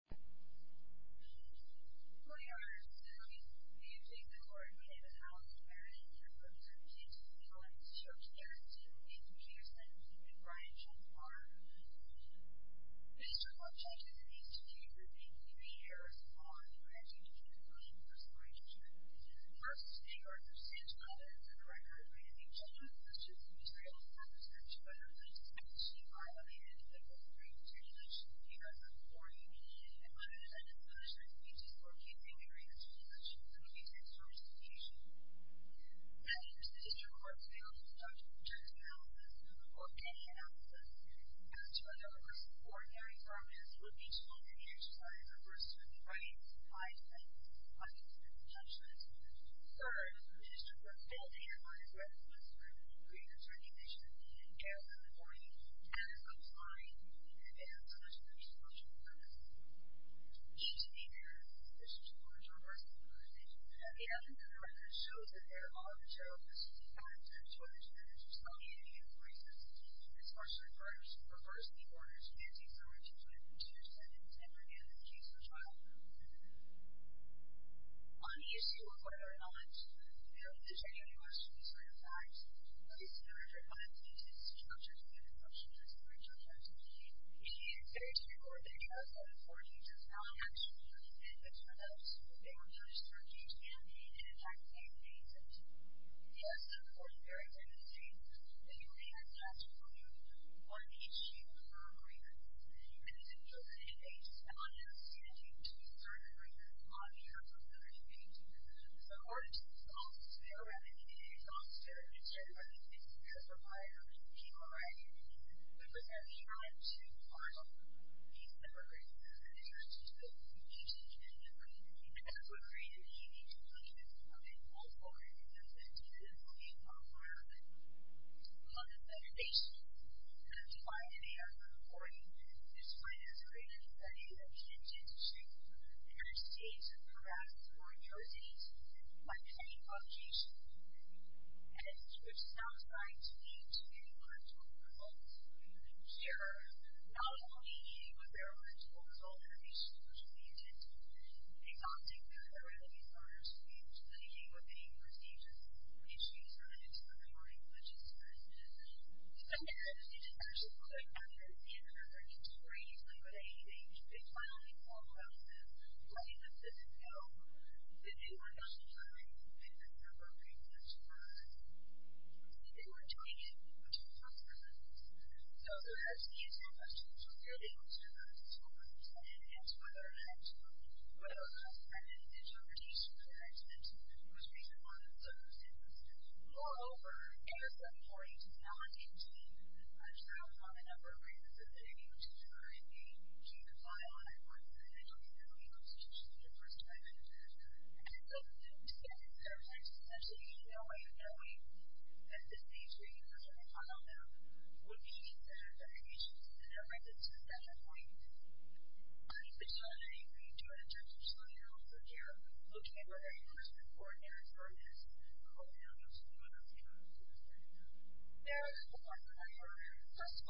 and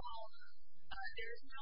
Mothers and Opposed to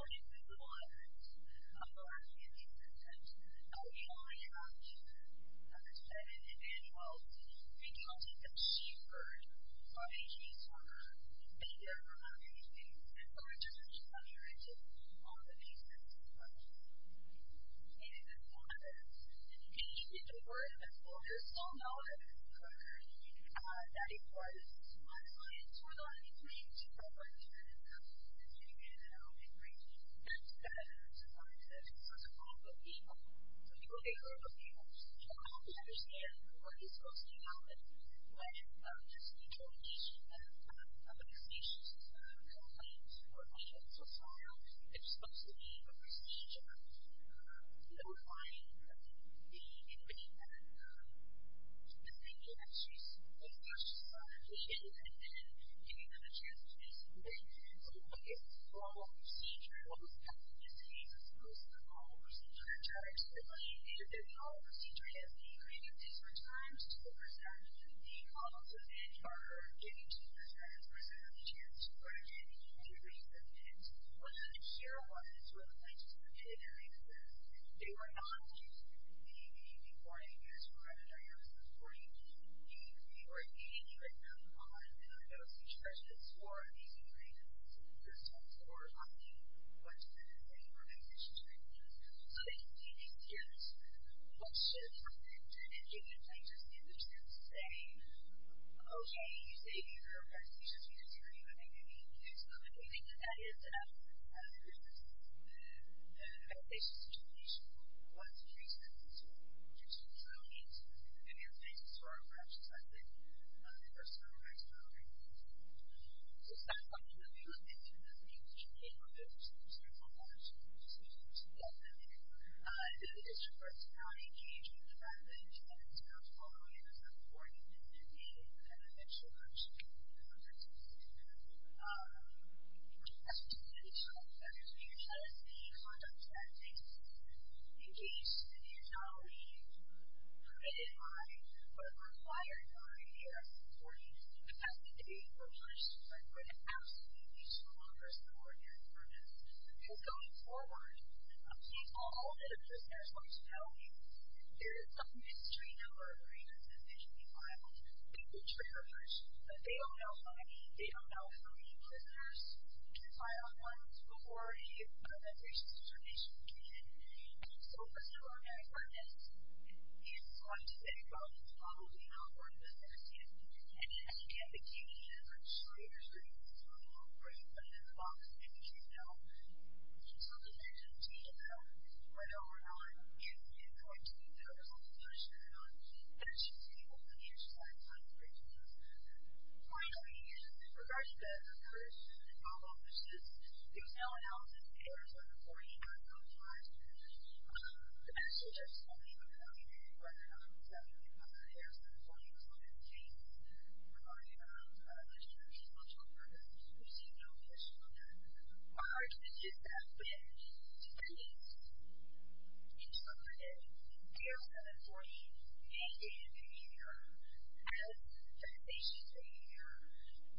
it present or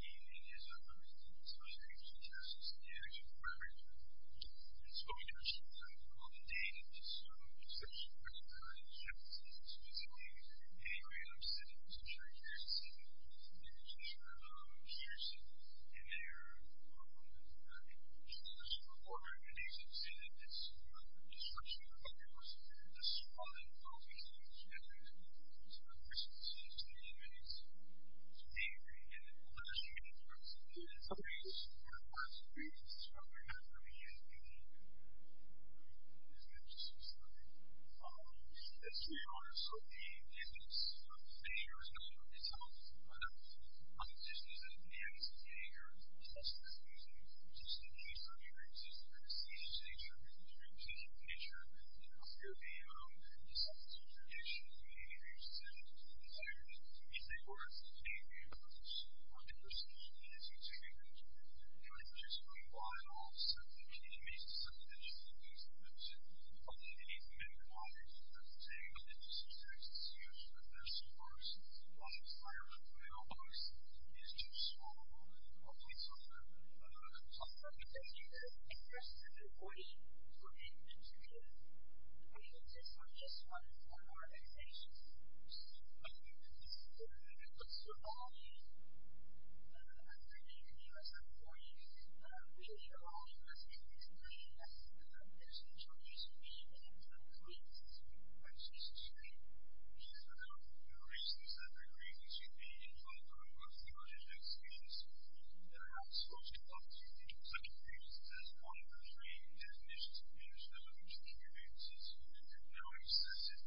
keep it under your children's options and abuse and historic David's case."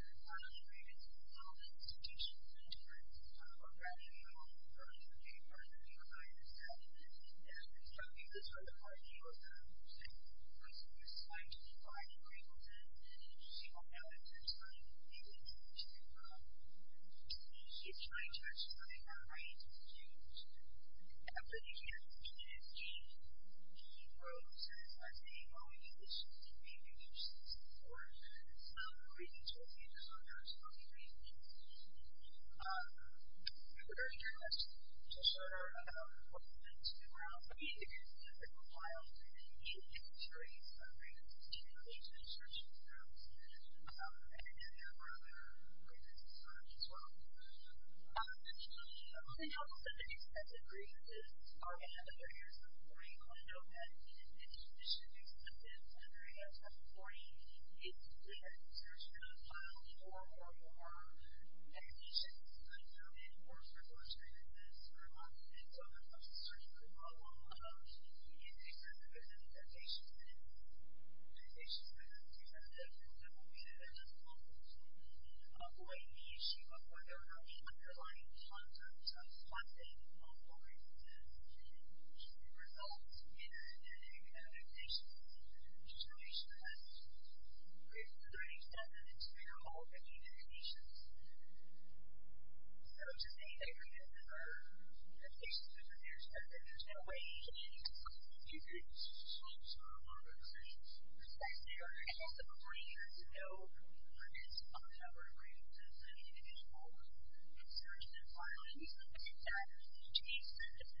Finally, the Statue of Liberty fell to the judges to cast a heart skull into the air at the punishment stage. Thank you and God Bless.